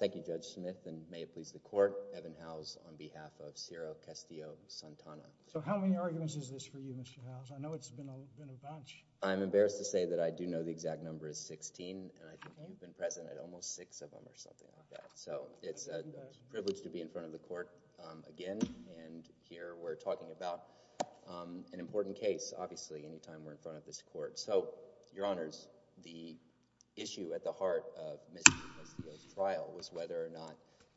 Thank you, Judge Smith, and may it please the Court, Evan Howes on behalf of Ciro Castillo-Santana. So how many arguments is this for you, Mr. Howes? I know it's been a bunch. I'm embarrassed to say that I do know the exact number is 16, and I think you've been present at almost six of them or something like that. So it's a privilege to be in front of the Court again, and here we're talking about an important case, obviously, anytime we're in front of this Court. So, Your Honors, the issue at the heart of Mr. Castillo's trial was whether or not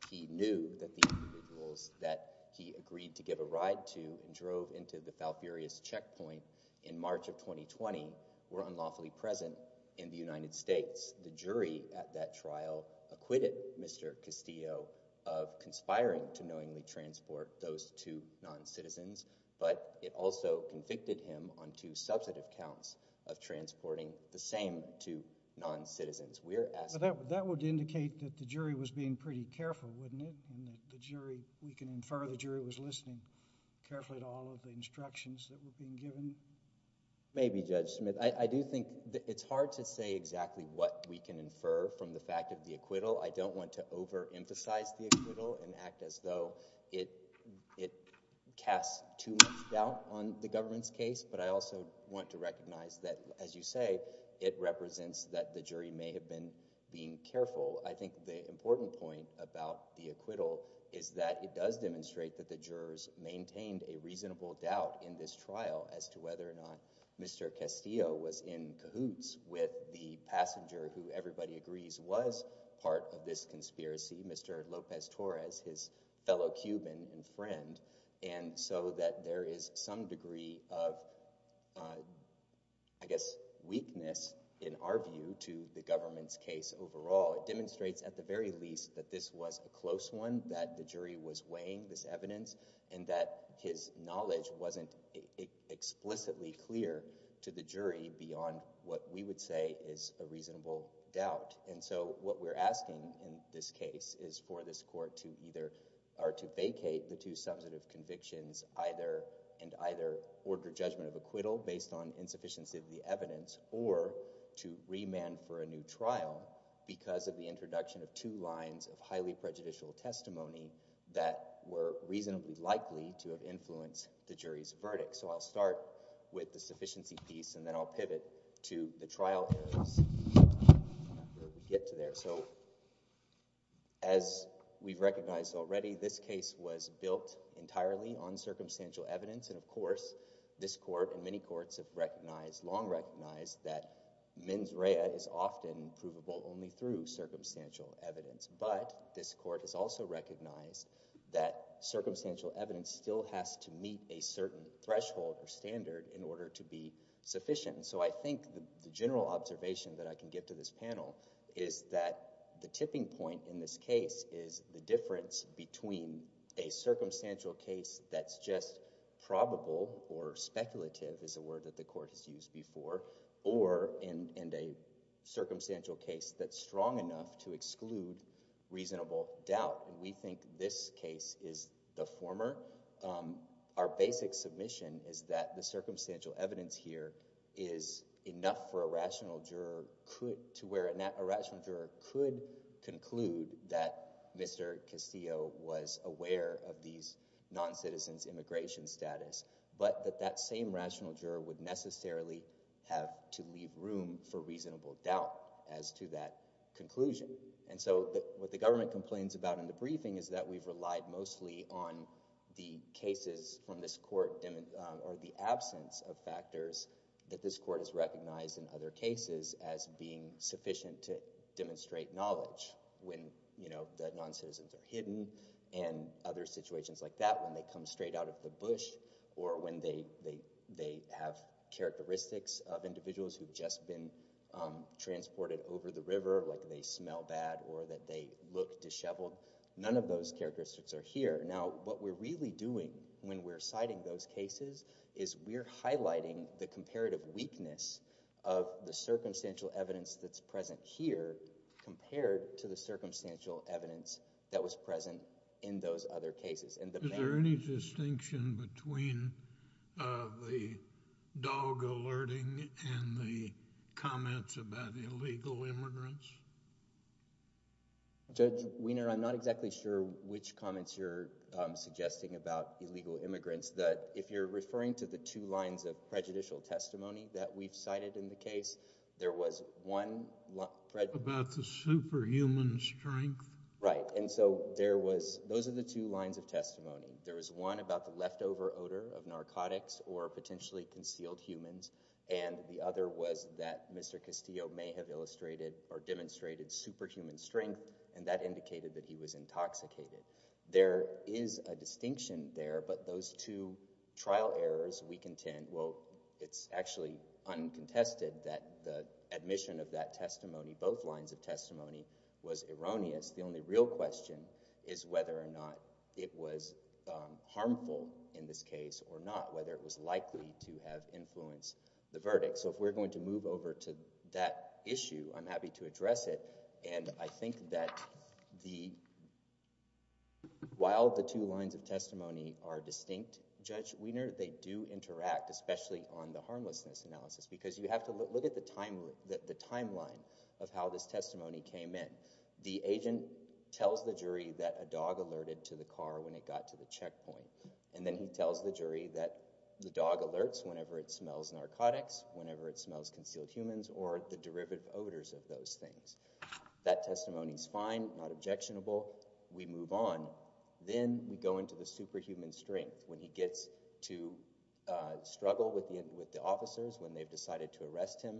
he knew that the individuals that he agreed to give a ride to and drove into the Falfurrias Checkpoint in March of 2020 were unlawfully present in the United States. Of course, the jury at that trial acquitted Mr. Castillo of conspiring to knowingly transport those two noncitizens, but it also convicted him on two substantive counts of transporting the same two noncitizens. That would indicate that the jury was being pretty careful, wouldn't it, and we can infer the jury was listening carefully to all of the instructions that were being given? Maybe, Judge Smith. I do think it's hard to say exactly what we can infer from the fact of the acquittal. I don't want to overemphasize the acquittal and act as though it casts too much doubt on the government's case, but I also want to recognize that, as you say, it represents that the jury may have been being careful. I think the important point about the acquittal is that it does demonstrate that the jurors maintained a reasonable doubt in this trial as to whether or not Mr. Castillo was in cahoots with the passenger who, everybody agrees, was part of this conspiracy, Mr. Lopez-Torres, his fellow Cuban friend, and so that there is some degree of, I guess, weakness, in our view, to the government's case overall. It demonstrates, at the very least, that this was a close one, that the jury was weighing this evidence, and that his knowledge wasn't explicitly clear to the jury beyond what we would say is a reasonable doubt. What we're asking in this case is for this court to either vacate the two substantive convictions and either order judgment of acquittal based on insufficiency of the evidence or to remand for a new trial because of the introduction of two lines of highly prejudicial testimony that were reasonably likely to have influenced the jury's verdict. So I'll start with the sufficiency piece, and then I'll pivot to the trial areas where we get to there. So as we've recognized already, this case was built entirely on circumstantial evidence. And of course, this court and many courts have recognized, long recognized, that mens rea is often provable only through circumstantial evidence. But this court has also recognized that circumstantial evidence still has to meet a certain threshold or standard in order to be sufficient. So I think the general observation that I can give to this panel is that the tipping point in this case is the difference between a circumstantial case that's just probable or speculative, is a word that the court has used before, or in a circumstantial case that's a word that's used to exclude reasonable doubt. And we think this case is the former. Our basic submission is that the circumstantial evidence here is enough for a rational juror to where a rational juror could conclude that Mr. Castillo was aware of these non-citizens' immigration status, but that that same rational juror would necessarily have to leave room for reasonable doubt as to that conclusion. And so what the government complains about in the briefing is that we've relied mostly on the cases from this court or the absence of factors that this court has recognized in other cases as being sufficient to demonstrate knowledge when, you know, the non-citizens are hidden and other situations like that, when they come straight out of the bush or when they have characteristics of individuals who've just been transported over the river, like they smell bad or that they look disheveled, none of those characteristics are here. Now, what we're really doing when we're citing those cases is we're highlighting the comparative weakness of the circumstantial evidence that's present here compared to the circumstantial evidence that was present in those other cases. And the main— Judge Wiener, I'm not exactly sure which comments you're suggesting about illegal immigrants, that if you're referring to the two lines of prejudicial testimony that we've cited in the case, there was one— About the superhuman strength? Right. And so there was—those are the two lines of testimony. There was one about the leftover odor of narcotics or potentially concealed humans, and the other was that Mr. Castillo may have illustrated or demonstrated superhuman strength, and that indicated that he was intoxicated. There is a distinction there, but those two trial errors, we contend—well, it's actually uncontested that the admission of that testimony, both lines of testimony, was erroneous. The only real question is whether or not it was harmful in this case or not, whether it was likely to have influenced the verdict. So if we're going to move over to that issue, I'm happy to address it. And I think that while the two lines of testimony are distinct, Judge Wiener, they do interact, especially on the harmlessness analysis, because you have to look at the timeline of how this testimony came in. The agent tells the jury that a dog alerted to the car when it got to the checkpoint, and then he tells the jury that the dog alerts whenever it smells narcotics, whenever it smells concealed humans, or the derivative odors of those things. That testimony's fine, not objectionable. We move on. Then we go into the superhuman strength. When he gets to struggle with the officers when they've decided to arrest him,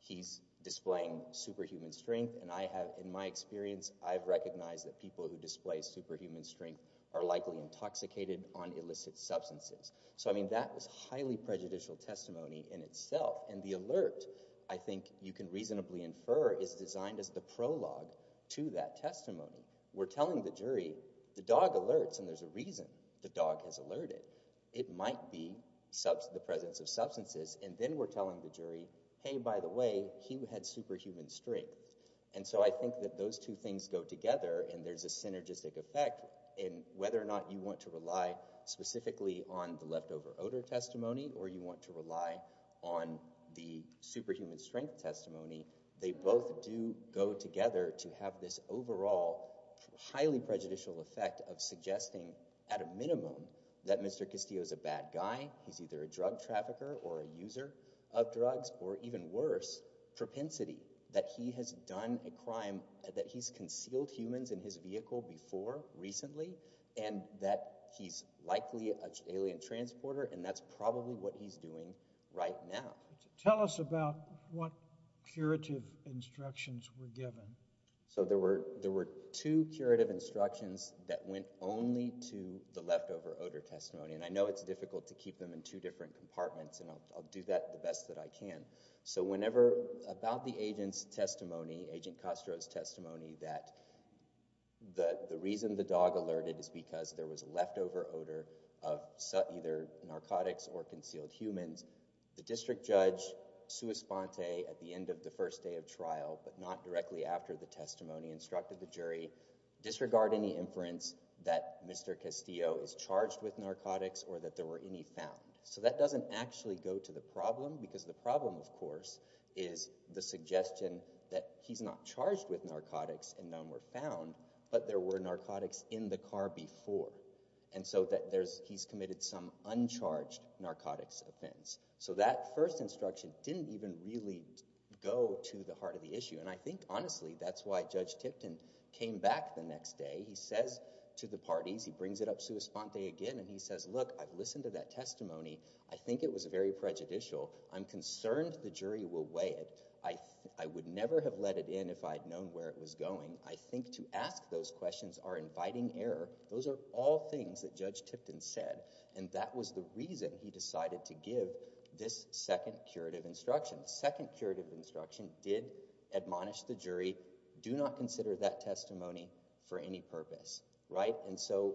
he's displaying superhuman strength, and I have—in my experience, I've recognized that people who display superhuman strength are likely intoxicated on illicit substances. So I mean, that is highly prejudicial testimony in itself, and the alert, I think you can reasonably infer, is designed as the prologue to that testimony. We're telling the jury, the dog alerts, and there's a reason the dog has alerted. It might be the presence of substances, and then we're telling the jury, hey, by the way, he had superhuman strength. And so I think that those two things go together, and there's a synergistic effect in whether or not you want to rely specifically on the leftover odor testimony or you want to rely on the superhuman strength testimony. They both do go together to have this overall highly prejudicial effect of suggesting, at a minimum, that Mr. Castillo's a bad guy, he's either a drug trafficker or a user of a drug. He's done a crime that he's concealed humans in his vehicle before recently, and that he's likely an alien transporter, and that's probably what he's doing right now. Tell us about what curative instructions were given. So there were two curative instructions that went only to the leftover odor testimony, and I know it's difficult to keep them in two different compartments, and I'll do that the best that I can. So whenever, about the agent's testimony, Agent Castro's testimony, that the reason the dog alerted is because there was leftover odor of either narcotics or concealed humans, the district judge, sua sponte, at the end of the first day of trial, but not directly after the testimony, instructed the jury, disregard any inference that Mr. Castillo is charged with narcotics or that there were any found. So that doesn't actually go to the problem, because the problem, of course, is the suggestion that he's not charged with narcotics and none were found, but there were narcotics in the car before, and so that he's committed some uncharged narcotics offense. So that first instruction didn't even really go to the heart of the issue, and I think, honestly, that's why Judge Tipton came back the next day. He says to the parties, he brings it up sua sponte again, and he says, look, I've listened to that testimony. I think it was very prejudicial. I'm concerned the jury will weigh it. I would never have let it in if I had known where it was going. I think to ask those questions are inviting error. Those are all things that Judge Tipton said, and that was the reason he decided to give this second curative instruction. Second curative instruction did admonish the jury, do not consider that testimony for any purpose. Right? And so,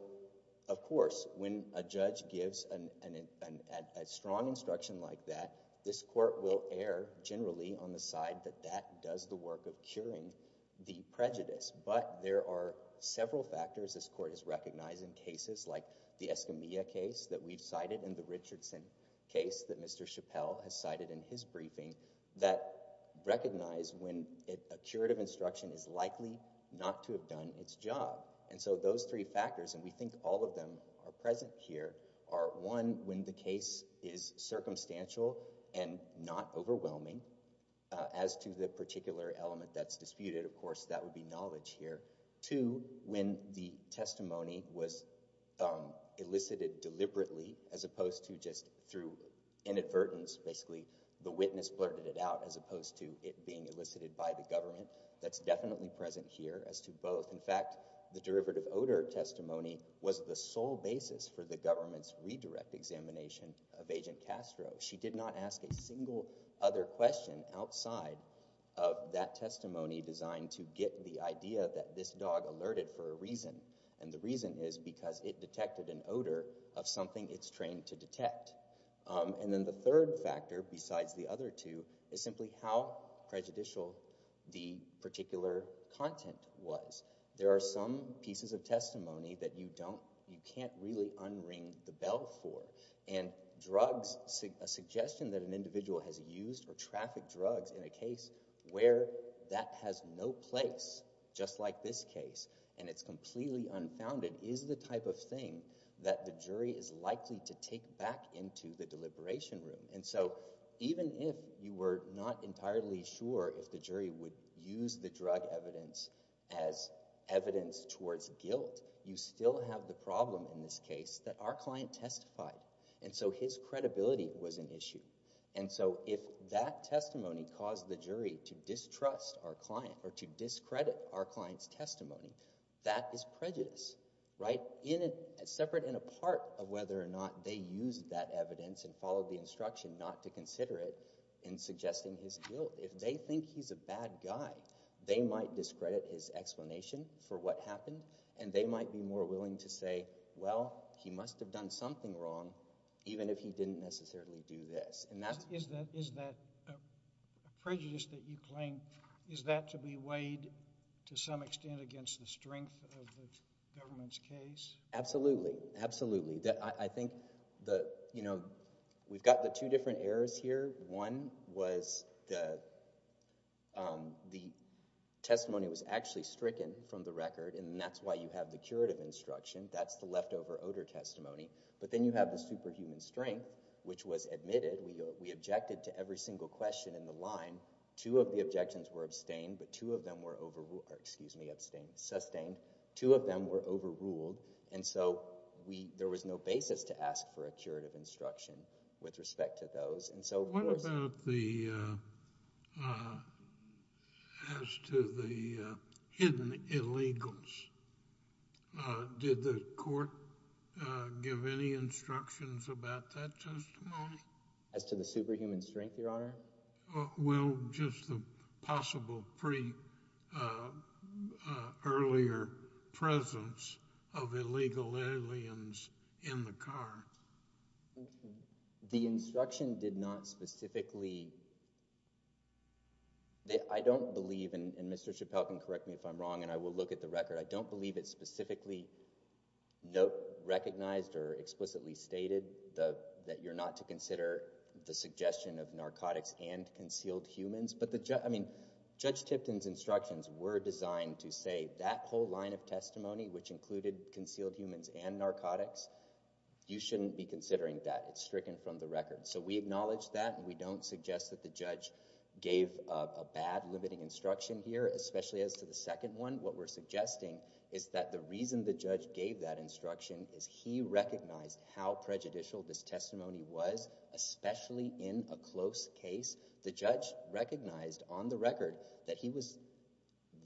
of course, when a judge gives a strong instruction like that, this Court will err generally on the side that that does the work of curing the prejudice, but there are several factors this Court has recognized in cases like the Escamilla case that we've cited and the Richardson case that Mr. Chappelle has cited in his briefing that recognize when a curative instruction is likely not to have done its job. And so those three factors, and we think all of them are present here, are, one, when the case is circumstantial and not overwhelming as to the particular element that's disputed. Of course, that would be knowledge here. Two, when the testimony was elicited deliberately as opposed to just through inadvertence, basically the witness blurted it out as opposed to it being elicited by the government. That's definitely present here as to both. In fact, the derivative odor testimony was the sole basis for the government's redirect examination of Agent Castro. She did not ask a single other question outside of that testimony designed to get the idea that this dog alerted for a reason. And the reason is because it detected an odor of something it's trained to detect. And then the third factor, besides the other two, is simply how prejudicial the particular content was. There are some pieces of testimony that you don't, you can't really unring the bell for. And drugs, a suggestion that an individual has used or trafficked drugs in a case where that has no place, just like this case, and it's completely unfounded, is the type of thing that the jury is likely to take back into the deliberation room. And so even if you were not entirely sure if the jury would use the drug evidence as evidence towards guilt, you still have the problem in this case that our client testified. And so his credibility was an issue. And so if that testimony caused the jury to distrust our client or to discredit our client's testimony, that is prejudice, right, separate and apart of whether or not they used that evidence and not to consider it in suggesting his guilt. If they think he's a bad guy, they might discredit his explanation for what happened. And they might be more willing to say, well, he must have done something wrong, even if he didn't necessarily do this. And that's... Is that prejudice that you claim, is that to be weighed to some extent against the strength of the government's case? Absolutely. Absolutely. I think the, you know, we've got the two different errors here. One was the testimony was actually stricken from the record, and that's why you have the curative instruction. That's the leftover odor testimony. But then you have the superhuman strength, which was admitted. We objected to every single question in the line. Two of the objections were abstained, but two of them were overruled, excuse me, abstained, sustained. Two of them were overruled. And so we, there was no basis to ask for a curative instruction with respect to those. And so... What about the, as to the hidden illegals? Did the court give any instructions about that testimony? As to the superhuman strength, Your Honor? Well, just the possible pre-earlier presence of illegal aliens in the car. The instruction did not specifically... I don't believe, and Mr. Chappelle can correct me if I'm wrong, and I will look at the record, I don't believe it specifically recognized or explicitly stated that you're not to consider the suggestion of narcotics and concealed humans. But the judge, I mean, Judge Tipton's instructions were designed to say that whole line of testimony, which included concealed humans and narcotics, you shouldn't be considering that. It's stricken from the record. So we acknowledge that, and we don't suggest that the judge gave a bad limiting instruction here, especially as to the second one. What we're suggesting is that the reason the judge gave that instruction is he recognized how prejudicial this testimony was, especially in a close case. The judge recognized on the record that he was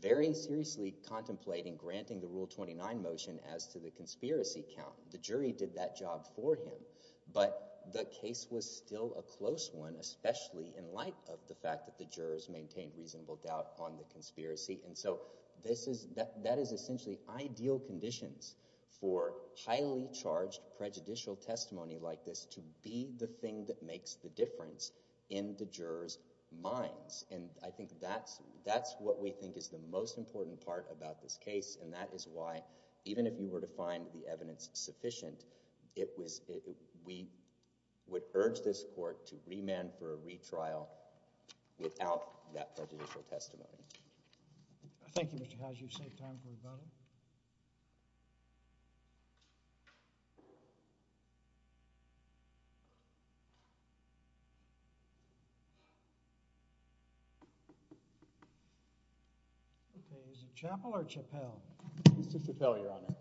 very seriously contemplating granting the Rule 29 motion as to the conspiracy count. The jury did that job for him. But the case was still a close one, especially in light of the fact that the jurors maintained reasonable doubt on the conspiracy. And so that is essentially ideal conditions for highly charged prejudicial testimony like this to be the thing that makes the difference in the jurors' minds. And I think that's what we think is the most important part about this case, and that is why, even if you were to find the evidence sufficient, we would urge this court to remand for a retrial without that prejudicial testimony. Thank you, Mr. Howes. You've saved time for rebuttal. OK, is it Chappell or Chappell? It's Chappell, Your Honor.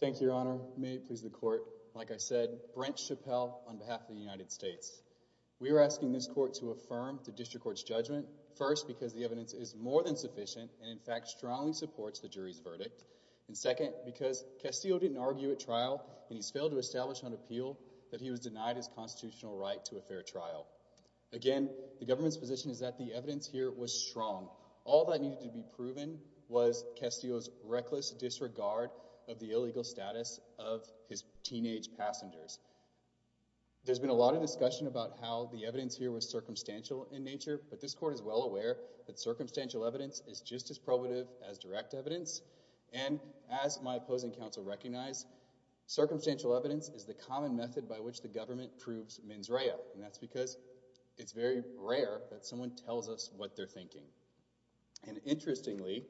Thank you, Your Honor. May it please the court. Like I said, Brent Chappell on behalf of the United States. We are asking this court to affirm the district court's judgment, first, because the evidence is more than sufficient and, in fact, strongly supports the jury's verdict, and second, because Castillo didn't argue at trial, and he's failed to establish on appeal that he was denied his constitutional right to a fair trial. Again, the government's position is that the evidence here was strong. All that needed to be proven was Castillo's reckless disregard of the illegal status of his teenage passengers. There's been a lot of discussion about how the evidence here was circumstantial in nature, but this court is well aware that circumstantial evidence is just as probative as direct evidence, and as my opposing counsel recognized, circumstantial evidence is the common method by which the government proves mens rea, and that's because it's very rare that someone tells us what they're thinking, and interestingly,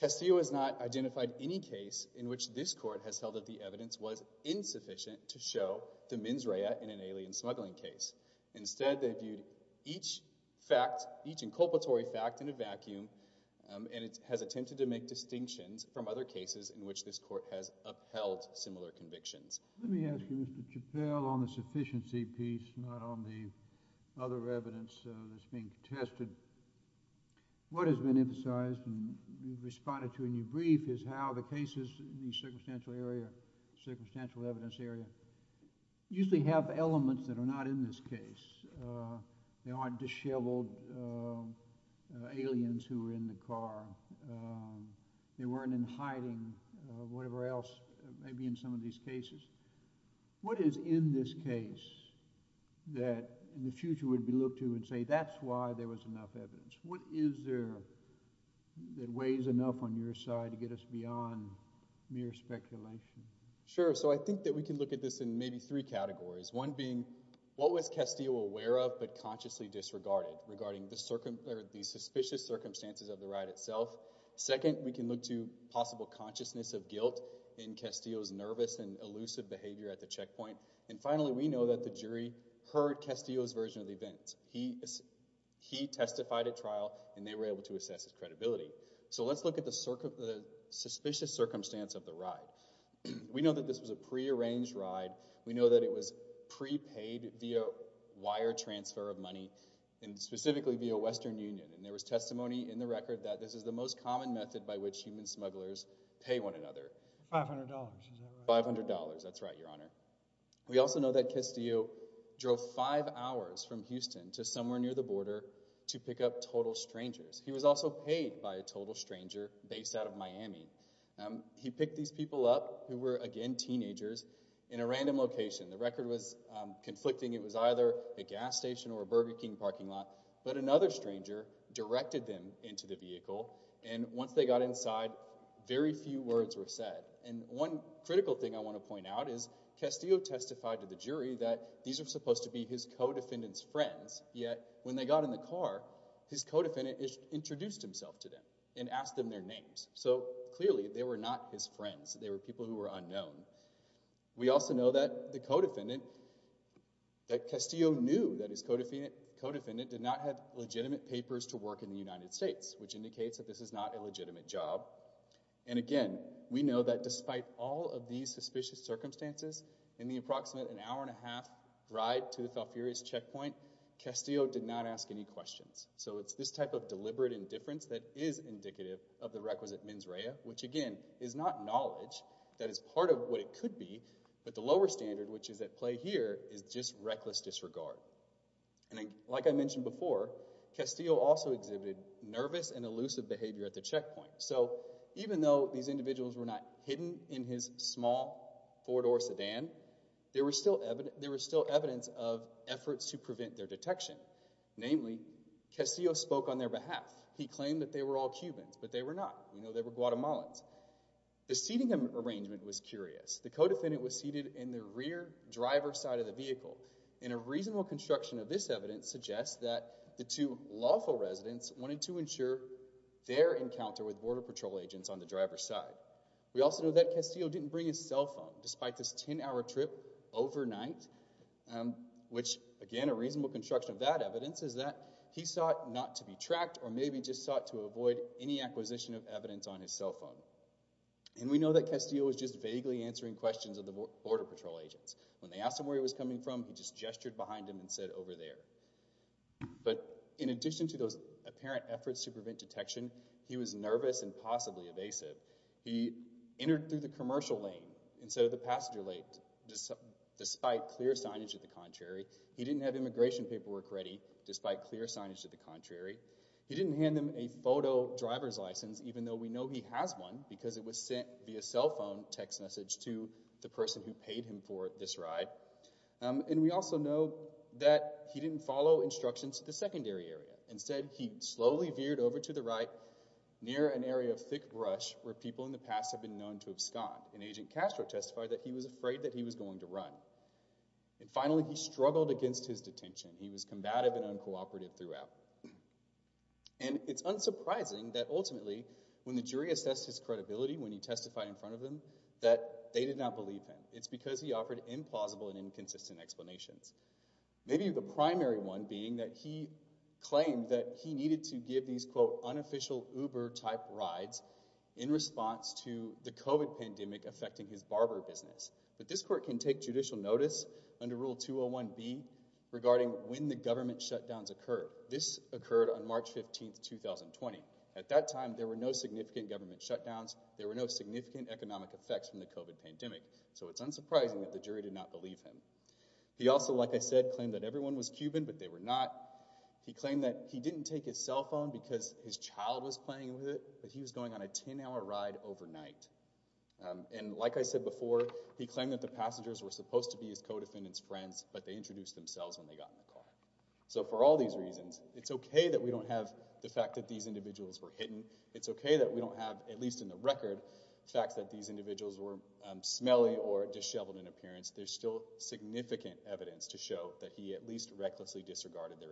Castillo has not identified any case in which this court has held that the evidence was insufficient to show the mens rea in an alien smuggling case. Instead, they viewed each fact, each inculpatory fact, in a vacuum, and it has attempted to make distinctions from other cases in which this court has upheld similar convictions. Let me ask you, Mr. Chappell, on the sufficiency piece, not on the other evidence that's being tested. What has been emphasized and responded to in your brief is how the cases in the circumstantial area, circumstantial evidence area, usually have elements that are not in this case. They aren't disheveled aliens who were in the car. They weren't in hiding, whatever else may be in some of these cases. What is in this case that in the future would be looked to and say that's why there was enough evidence? What is there that weighs enough on your side to get us beyond mere speculation? Sure. So I think that we can look at this in maybe three categories, one being what was Castillo aware of but consciously disregarded regarding the suspicious circumstances of the ride itself. Second, we can look to possible consciousness of guilt in Castillo's nervous and elusive behavior at the checkpoint. And finally, we know that the jury heard Castillo's version of the event. He testified at trial and they were able to assess his credibility. So let's look at the suspicious circumstance of the ride. We know that this was a prearranged ride. We know that it was prepaid via wire transfer of money and specifically via Western Union. There was testimony in the record that this is the most common method by which human smugglers pay one another. $500. $500. That's right, Your Honor. We also know that Castillo drove five hours from Houston to somewhere near the border to pick up total strangers. He was also paid by a total stranger based out of Miami. He picked these people up who were, again, teenagers in a random location. The record was conflicting. It was either a gas station or a Burger King parking lot. But another stranger directed them into the vehicle. And once they got inside, very few words were said. And one critical thing I want to point out is Castillo testified to the jury that these are supposed to be his co-defendant's friends. Yet when they got in the car, his co-defendant introduced himself to them and asked them their names. So clearly, they were not his friends. They were people who were unknown. We also know that the co-defendant, that Castillo knew that his co-defendant did not have legitimate papers to work in the United States, which indicates that this is not a legitimate job. And again, we know that despite all of these suspicious circumstances, in the approximate an hour and a half ride to the Falfurrias checkpoint, Castillo did not ask any questions. So it's this type of deliberate indifference that is indicative of the requisite mens rea, which again, is not knowledge. That is part of what it could be. But the lower standard, which is at play here, is just reckless disregard. And like I mentioned before, Castillo also exhibited nervous and elusive behavior at the checkpoint. So even though these individuals were not hidden in his small four-door sedan, there was still evidence of efforts to prevent their detection. Namely, Castillo spoke on their behalf. He claimed that they were all Cubans, but they were not. We know they were Guatemalans. The seating arrangement was curious. The co-defendant was seated in the rear driver's side of the vehicle. And a reasonable construction of this evidence suggests that the two lawful residents wanted to ensure their encounter with Border Patrol agents on the driver's side. We also know that Castillo didn't bring his cell phone, despite this 10-hour trip overnight. Which, again, a reasonable construction of that evidence is that he sought not to be exposed to evidence on his cell phone. And we know that Castillo was just vaguely answering questions of the Border Patrol agents. When they asked him where he was coming from, he just gestured behind him and said, over there. But in addition to those apparent efforts to prevent detection, he was nervous and possibly evasive. He entered through the commercial lane instead of the passenger lane, despite clear signage to the contrary. He didn't hand them a photo driver's license, even though we know he has one, because it was sent via cell phone text message to the person who paid him for this ride. And we also know that he didn't follow instructions to the secondary area. Instead, he slowly veered over to the right, near an area of thick brush, where people in the past have been known to abscond. And Agent Castro testified that he was afraid that he was going to run. And finally, he struggled against his detention. He was combative and uncooperative throughout. And it's unsurprising that ultimately, when the jury assessed his credibility, when he testified in front of them, that they did not believe him. It's because he offered implausible and inconsistent explanations. Maybe the primary one being that he claimed that he needed to give these, quote, unofficial Uber-type rides in response to the COVID pandemic affecting his barber business. But this court can take judicial notice under Rule 201-B regarding when the government shutdowns occurred. This occurred on March 15, 2020. At that time, there were no significant government shutdowns. There were no significant economic effects from the COVID pandemic. So it's unsurprising that the jury did not believe him. He also, like I said, claimed that everyone was Cuban, but they were not. He claimed that he didn't take his cell phone because his child was playing with it, but he was going on a 10-hour ride overnight. And like I said before, he claimed that the passengers were supposed to be his co-defendants' friends, but they introduced themselves when they got in the car. So for all these reasons, it's okay that we don't have the fact that these individuals were hidden. It's okay that we don't have, at least in the record, facts that these individuals were smelly or disheveled in appearance. There's still significant evidence to show that he at least recklessly disregarded their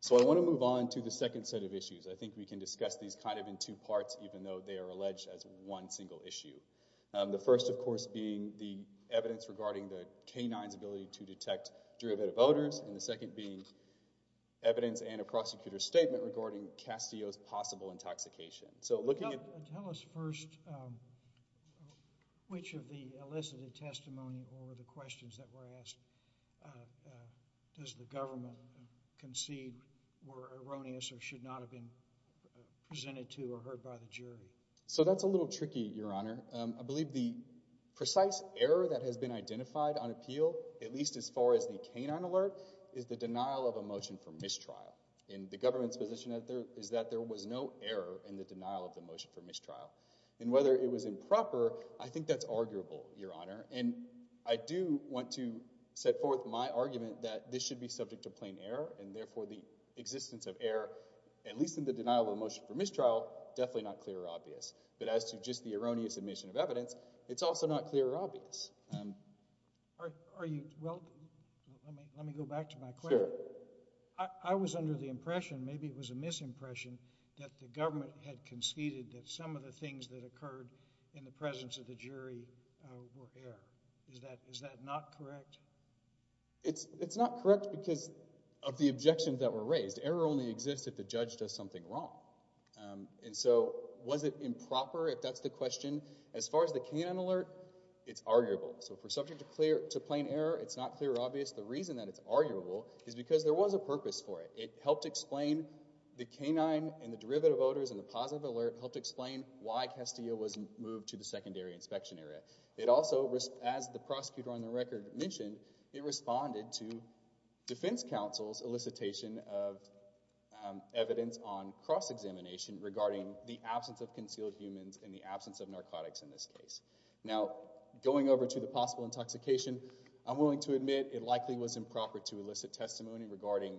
So I want to move on to the second set of issues. I think we can discuss these kind of in two parts, even though they are alleged as one single issue. The first, of course, being the evidence regarding the canine's ability to detect derivative odors, and the second being evidence and a prosecutor's statement regarding Castillo's possible intoxication. So looking at- Tell us first, which of the elicited testimony or the questions that were asked, does the presented to or heard by the jury? So that's a little tricky, Your Honor. I believe the precise error that has been identified on appeal, at least as far as the canine alert, is the denial of a motion for mistrial. And the government's position is that there was no error in the denial of the motion for mistrial. And whether it was improper, I think that's arguable, Your Honor. And I do want to set forth my argument that this should be subject to plain error, and the denial of a motion for mistrial, definitely not clear or obvious. But as to just the erroneous admission of evidence, it's also not clear or obvious. Are you- Well, let me go back to my question. Sure. I was under the impression, maybe it was a misimpression, that the government had conceded that some of the things that occurred in the presence of the jury were error. Is that not correct? It's not correct because of the objections that were raised. Error only exists if the judge does something wrong. And so was it improper, if that's the question? As far as the canine alert, it's arguable. So if we're subject to plain error, it's not clear or obvious. The reason that it's arguable is because there was a purpose for it. It helped explain the canine and the derivative voters and the positive alert, helped explain why Castillo was moved to the secondary inspection area. It also, as the prosecutor on the record mentioned, it responded to defense counsel's solicitation of evidence on cross-examination regarding the absence of concealed humans and the absence of narcotics in this case. Now, going over to the possible intoxication, I'm willing to admit it likely was improper to elicit testimony regarding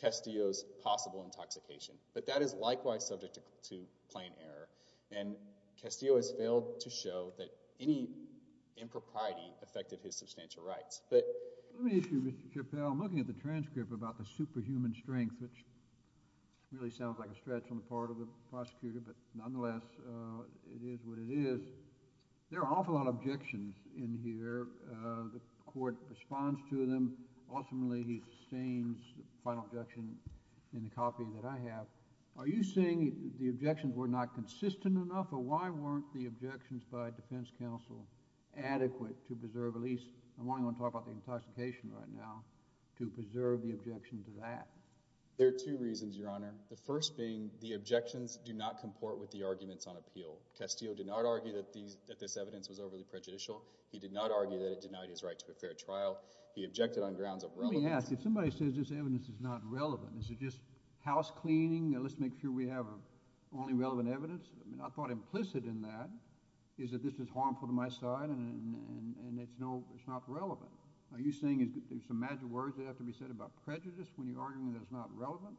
Castillo's possible intoxication. But that is likewise subject to plain error. And Castillo has failed to show that any impropriety affected his substantial rights. Let me ask you, Mr. Chappell, I'm looking at the transcript about the superhuman strength, which really sounds like a stretch on the part of the prosecutor, but nonetheless, it is what it is. There are an awful lot of objections in here. The court responds to them. Ultimately, he sustains the final objection in the copy that I have. Are you saying the objections were not consistent enough? Or why weren't the objections by defense counsel adequate to preserve, at least, I'm only going to talk about the intoxication right now, to preserve the objection to that? There are two reasons, Your Honor. The first being the objections do not comport with the arguments on appeal. Castillo did not argue that this evidence was overly prejudicial. He did not argue that it denied his right to a fair trial. He objected on grounds of relevance. Let me ask, if somebody says this evidence is not relevant, is it just housecleaning, let's make sure we have only relevant evidence? I mean, I thought implicit in that is that this is harmful to my side and it's not relevant. Are you saying there's some magic words that have to be said about prejudice when you're arguing that it's not relevant?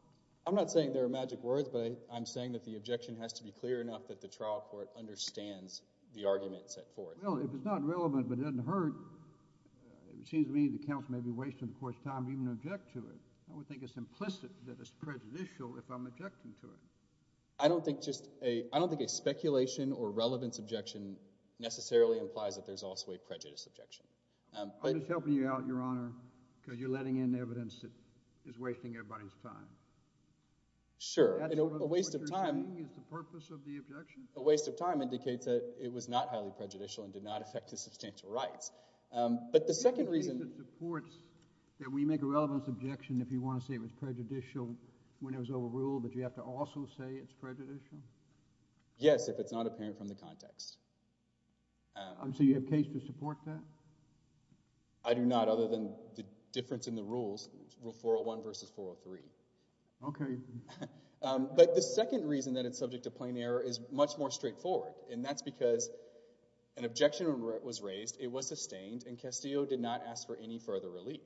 I'm not saying there are magic words, but I'm saying that the objection has to be clear enough that the trial court understands the argument set forth. Well, if it's not relevant but it doesn't hurt, it seems to me the counsel may be wasting the court's time even to object to it. I would think it's implicit that it's prejudicial if I'm objecting to it. I don't think a speculation or relevance objection necessarily implies that there's also a prejudice objection. I'm just helping you out, Your Honor, because you're letting in evidence that is wasting everybody's time. Sure. A waste of time... Is the purpose of the objection? A waste of time indicates that it was not highly prejudicial and did not affect his substantial rights. But the second reason... Do you think it supports that we make a relevance objection if you want to say it was prejudicial when it was overruled, but you have to also say it's prejudicial? Yes, if it's not apparent from the context. So you have case to support that? I do not, other than the difference in the rules, Rule 401 versus 403. Okay. But the second reason that it's subject to plain error is much more straightforward, and that's because an objection was raised, it was sustained, and Castillo did not ask for any further relief.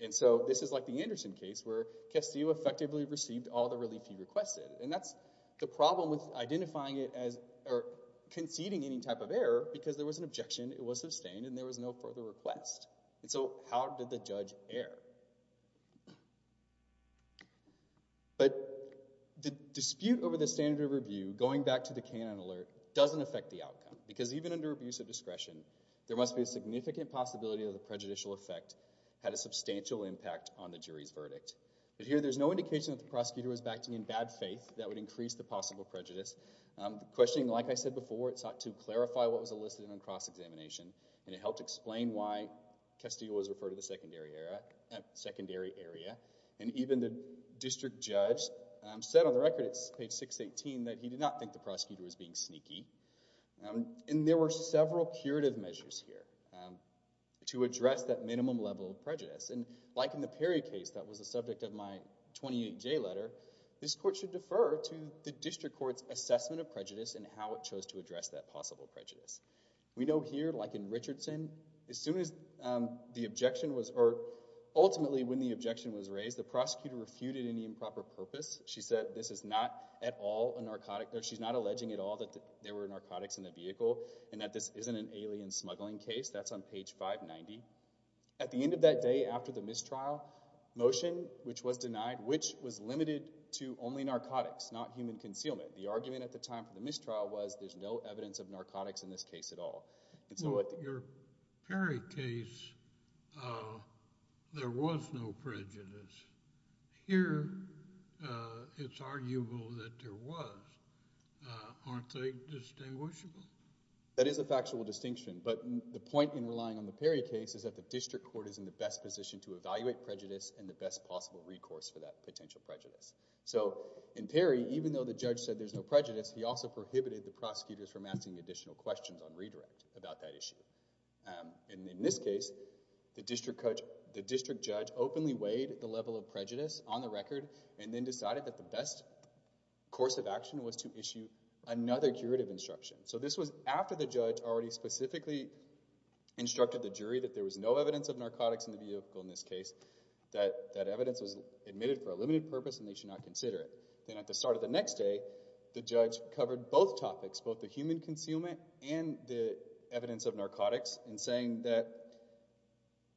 And so this is like the Anderson case, where Castillo effectively received all the relief he requested. And that's the problem with identifying it as... or conceding any type of error, because there was an objection, it was sustained, and there was no further request. And so how did the judge err? But the dispute over the standard of review, going back to the K-9 alert, doesn't affect the outcome. Because even under abuse of discretion, there must be a significant possibility that the prejudicial effect had a substantial impact on the jury's verdict. Here, there's no indication that the prosecutor was acting in bad faith that would increase the possible prejudice. The questioning, like I said before, sought to clarify what was elicited on cross-examination, and it helped explain why Castillo was referred to the secondary area. And even the district judge said on the record, it's page 618, that he did not think the prosecutor was being sneaky. And there were several curative measures here to address that minimum level of prejudice. And like in the Perry case, that was the subject of my 28-J letter, this court should defer to the district court's assessment of prejudice and how it chose to address that possible prejudice. We know here, like in Richardson, as soon as the objection was, or ultimately when the objection was raised, the prosecutor refuted any improper purpose. She said this is not at all a narcotic, or she's not alleging at all that there were narcotics in the vehicle, and that this isn't an alien smuggling case. That's on page 590. At the end of that day, after the mistrial, motion which was denied, which was limited to only narcotics, not human concealment. The argument at the time for the mistrial was, there's no evidence of narcotics in this case at all. In your Perry case, there was no prejudice. Here, it's arguable that there was. Aren't they distinguishable? That is a factual distinction, but the point in relying on the Perry case is that the district court is in the best position to evaluate prejudice and the best possible recourse for that potential prejudice. In Perry, even though the judge said there's no prejudice, he also prohibited the prosecutors from asking additional questions on redirect about that issue. In this case, the district judge openly weighed the level of prejudice on the record, and then decided that the best course of action was to issue another curative instruction. So this was after the judge already specifically instructed the jury that there was no evidence of narcotics in the vehicle in this case, that that evidence was admitted for a limited purpose and they should not consider it. Then at the start of the next day, the judge covered both topics, both the human concealment and the evidence of narcotics, in saying that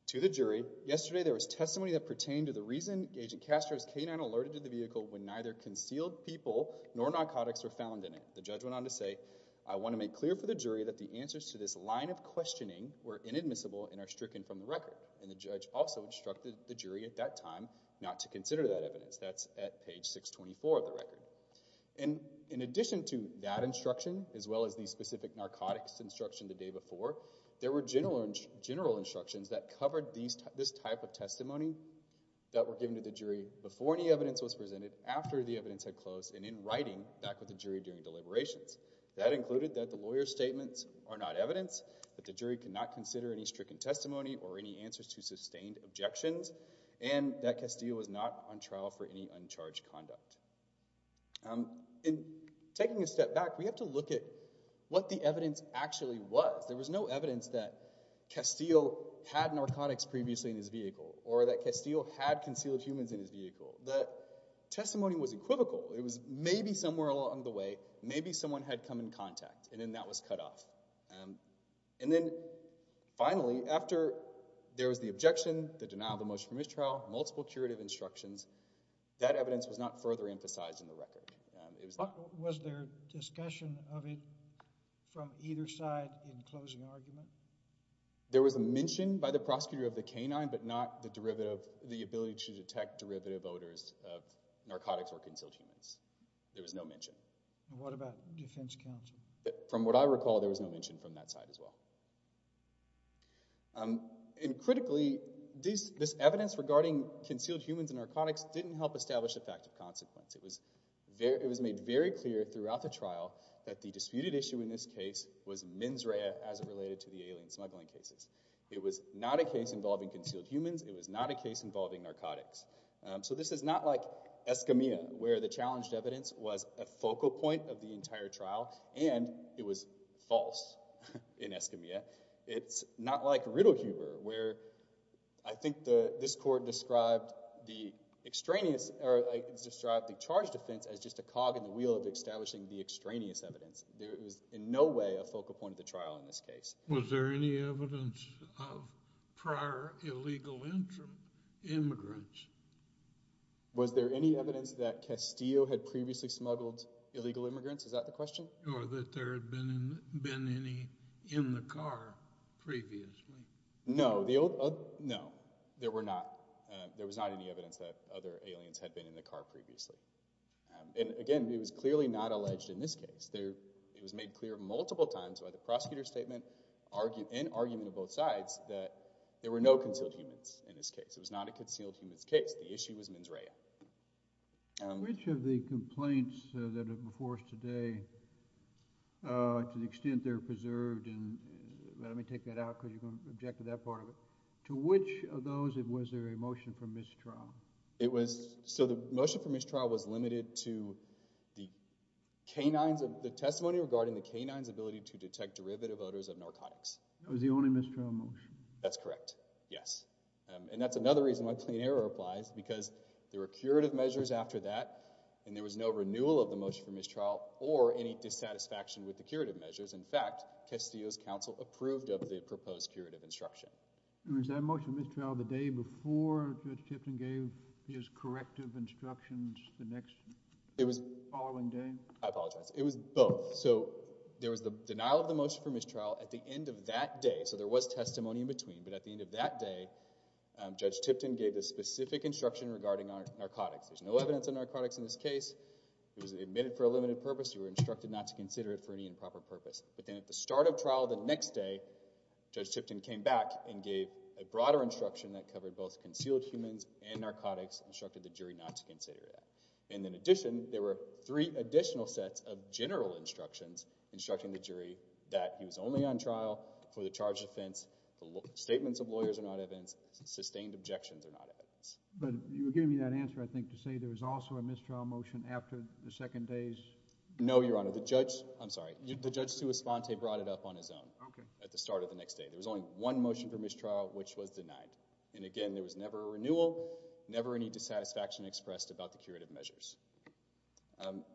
to the jury, yesterday there was testimony that pertained to the reason Agent Castro's canine alerted to the vehicle when neither concealed people nor narcotics were found in it. The judge went on to say, I want to make clear for the jury that the answers to this line of questioning were inadmissible and are stricken from the record. And the judge also instructed the jury at that time not to consider that evidence. That's at page 624 of the record. And in addition to that instruction, as well as the specific narcotics instruction the day before, there were general instructions that covered this type of testimony that were given to the jury before any evidence was presented, after the evidence had closed, and in writing, back with the jury during deliberations. That included that the lawyer's statements are not evidence, that the jury cannot consider any stricken testimony or any answers to sustained objections, and that Castile was not on trial for any uncharged conduct. In taking a step back, we have to look at what the evidence actually was. There was no evidence that Castile had narcotics previously in his vehicle, or that Castile had concealed humans in his vehicle. The testimony was equivocal. It was maybe somewhere along the way, maybe someone had come in contact, and then that was cut off. And then, finally, after there was the objection, the denial of the motion for mistrial, multiple curative instructions, that evidence was not further emphasized in the record. Was there discussion of it from either side in closing argument? There was a mention by the prosecutor of the canine, but not the ability to detect derivative odors of narcotics or concealed humans. There was no mention. What about defense counsel? From what I recall, there was no mention from that side as well. And critically, this evidence regarding concealed humans and narcotics didn't help establish the fact of consequence. It was made very clear throughout the trial that the disputed issue in this case was mens rea as it related to the alien smuggling cases. It was not a case involving concealed humans. It was not a case involving narcotics. So this is not like Escamilla, where the challenged evidence was a focal point of the entire trial and it was false in Escamilla. It's not like Riddlehuber, where I think this court described the charge defense as just a cog in the wheel of establishing the extraneous evidence. There was in no way a focal point of the trial in this case. Was there any evidence of prior illegal immigrants? Was there any evidence that Castillo had previously smuggled illegal immigrants? Is that the question? Or that there had been any in the car previously? No. There were not. There was not any evidence that other aliens had been in the car previously. And again, it was clearly not alleged in this case. It was made clear multiple times by the prosecutor's statement and argument of both sides that there were no concealed humans in this case. It was not a concealed humans case. The issue was mens rea. Which of the complaints that are before us today to the extent they're preserved and, let me take that out because you're going to object to that part of it, to which of those was there a motion for mistrial? The motion for mistrial was limited to the canine's ability to detect derivative odors of narcotics. That was the only mistrial motion. That's correct. Yes. And that's another reason why clean air applies because there were curative measures after that and there was no renewal of the motion for mistrial or any dissatisfaction with the curative measures. In fact, Castillo's counsel approved of the proposed curative instruction. Was that motion for mistrial the day before Judge Tipton gave his corrective instructions the next following day? I apologize. It was both. There was the denial of the motion for mistrial at the end of that day, so there was testimony in between, but at the end of that day Judge Tipton gave the specific instruction regarding narcotics. There's no evidence of narcotics in this case. It was admitted for a limited purpose. You were instructed not to consider it for any improper purpose. At the start of trial the next day, Judge Tipton came back and gave a broader instruction that covered both concealed humans and narcotics. Instructed the jury not to consider that. And in addition, there were three additional sets of general instructions instructing the jury that he was only on trial for the charged offense. Statements of lawyers are not evidence. Sustained objections are not evidence. But you were giving me that answer, I think, to say there was also a mistrial motion after the second day's... No, Your Honor. The judge... I'm sorry. The judge brought it up on his own at the start of the next day. There was only one motion for mistrial which was denied. And again, there was never a renewal, never any dissatisfaction expressed about the curative measures.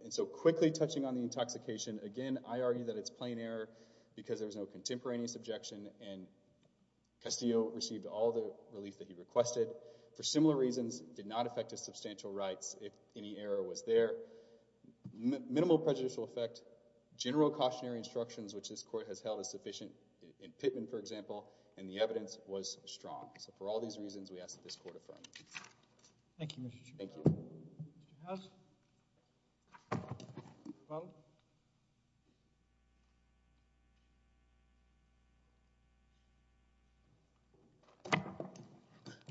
And so, quickly touching on the intoxication, again, I argue that it's plain error because there was no contemporaneous objection and Castillo received all the relief that he requested. For similar reasons, did not affect his substantial rights if any error was there. Minimal prejudicial effect, general cautionary instructions, which this court has held as sufficient, in Pittman, for example, and the evidence was strong. So for all these reasons, we ask that this court affirm. Thank you, Mr. Chairman. Mr. House?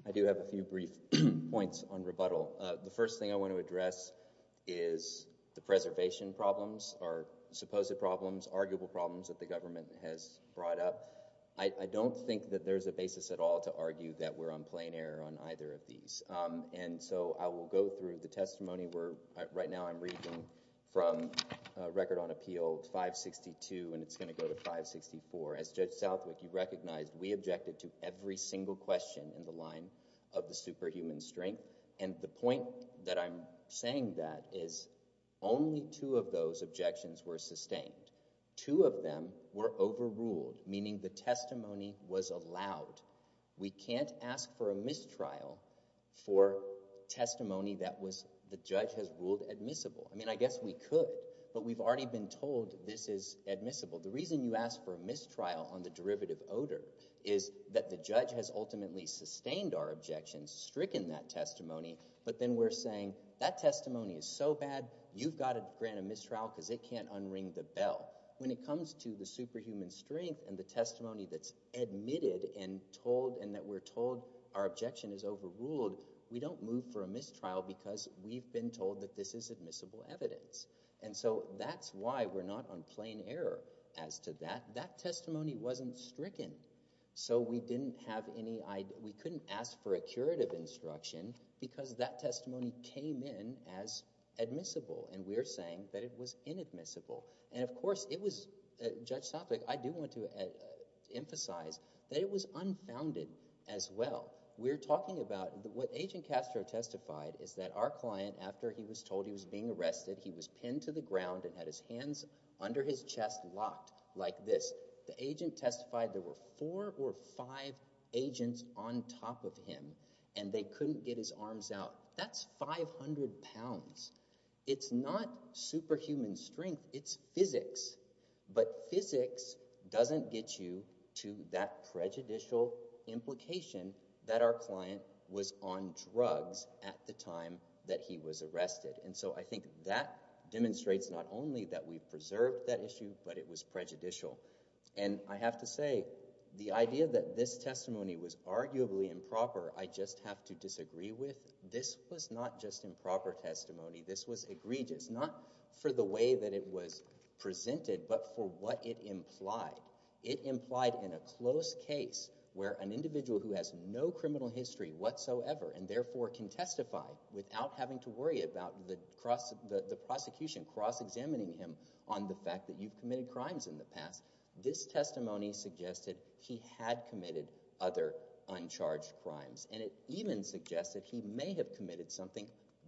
I do have a few brief points on rebuttal. The first thing I want to address is the preservation problems, or supposed problems, arguable problems that the government has brought up. I don't think that there's a basis at all to argue that we're on plain error on either of these. And so, I will go through the testimony where right now I'm reading from Record on Appeal 562 and it's going to go to 564. As Judge Southwick, you recognized we objected to every single question in the line of the superhuman strength and the point that I'm saying that is only two of those objections were sustained. Two of them were overruled, meaning the we can't ask for a mistrial for testimony that the judge has ruled admissible. I mean, I guess we could, but we've already been told this is admissible. The reason you ask for a mistrial on the derivative odor is that the judge has ultimately sustained our objections, stricken that testimony, but then we're saying that testimony is so bad, you've got to grant a mistrial because it can't unring the bell. When it comes to the superhuman strength and the testimony that's admitted and told and that we're told our objection is overruled, we don't move for a mistrial because we've been told that this is admissible evidence. And so that's why we're not on plain error as to that. That testimony wasn't stricken. So we didn't have any, we couldn't ask for a curative instruction because that testimony came in as admissible and we're saying that it was inadmissible. And of course it was, Judge emphasized that it was unfounded as well. We're talking about what Agent Castro testified is that our client, after he was told he was being arrested, he was pinned to the ground and had his hands under his chest locked like this. The agent testified there were four or five agents on top of him and they couldn't get his arms out. That's 500 pounds. It's not superhuman strength, it's physics. But physics doesn't get you to that prejudicial implication that our client was on drugs at the time that he was arrested. And so I think that demonstrates not only that we preserved that issue, but it was prejudicial. And I have to say, the idea that this testimony was arguably improper I just have to disagree with. This was not just improper testimony. This was egregious. Not for the way that it was presented, but for what it implied. It implied in a close case where an individual who has no criminal history whatsoever and therefore can testify without having to worry about the prosecution cross-examining him on the fact that you've committed crimes in the past, this testimony suggested he had committed other uncharged crimes. And it even suggested he may have committed something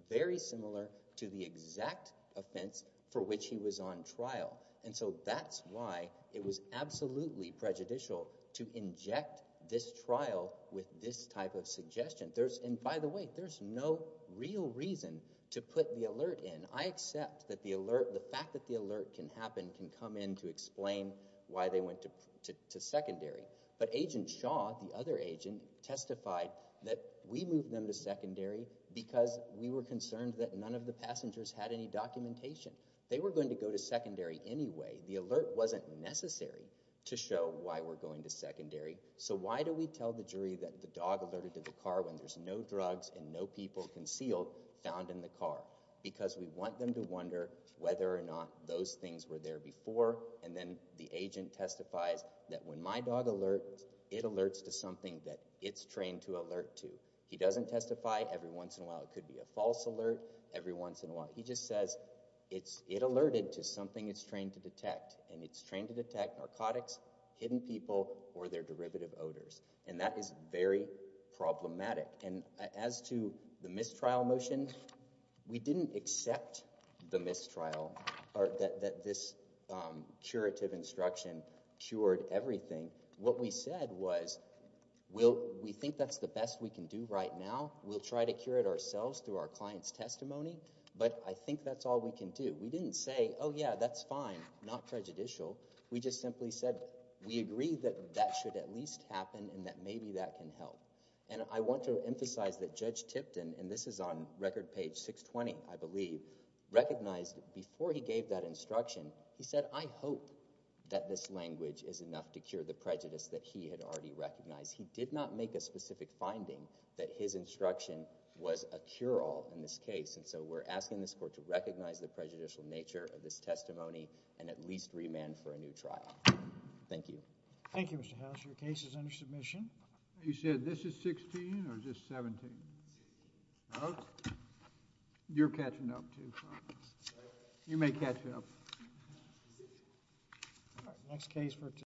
very similar to the exact offense for which he was on trial. And so that's why it was absolutely prejudicial to inject this trial with this type of suggestion. And by the way, there's no real reason to put the alert in. I accept that the fact that the alert can happen can come in to explain why they went to secondary. But Agent Shaw, the other agent, testified that we moved them to secondary because we were concerned that none of the passengers had any documentation. They were going to go to secondary anyway. The alert wasn't necessary to show why we're going to secondary. So why do we tell the jury that the dog alerted to the car when there's no drugs and no people concealed found in the car? Because we want them to wonder whether or not those things were there before. And then the agent testifies that when my dog alerts, it alerts to something that it's trained to alert to. He doesn't testify every once in a while. It could be a few minutes. He just says it alerted to something it's trained to detect. And it's trained to detect narcotics, hidden people, or their derivative odors. And that is very problematic. And as to the mistrial motion, we didn't accept the mistrial or that this curative instruction cured everything. What we said was, we think that's the best we can do right now. We'll try to cure it ourselves through our client's testimony, but I think that's all we can do. We didn't say, oh yeah, that's fine, not prejudicial. We just simply said, we agree that that should at least happen and that maybe that can help. And I want to emphasize that Judge Tipton, and this is on record page 620, I believe, recognized before he gave that instruction, he said, I hope that this language is enough to cure the prejudice that he had already recognized. He did not make a specific finding that his client was prejudicial. And so we're asking this Court to recognize the prejudicial nature of this testimony and at least remand for a new trial. Thank you. Thank you, Mr. House. Your case is under submission. You said this is 16 or is this 17? Oh. You're catching up too. You may catch up. All right. Next case for today.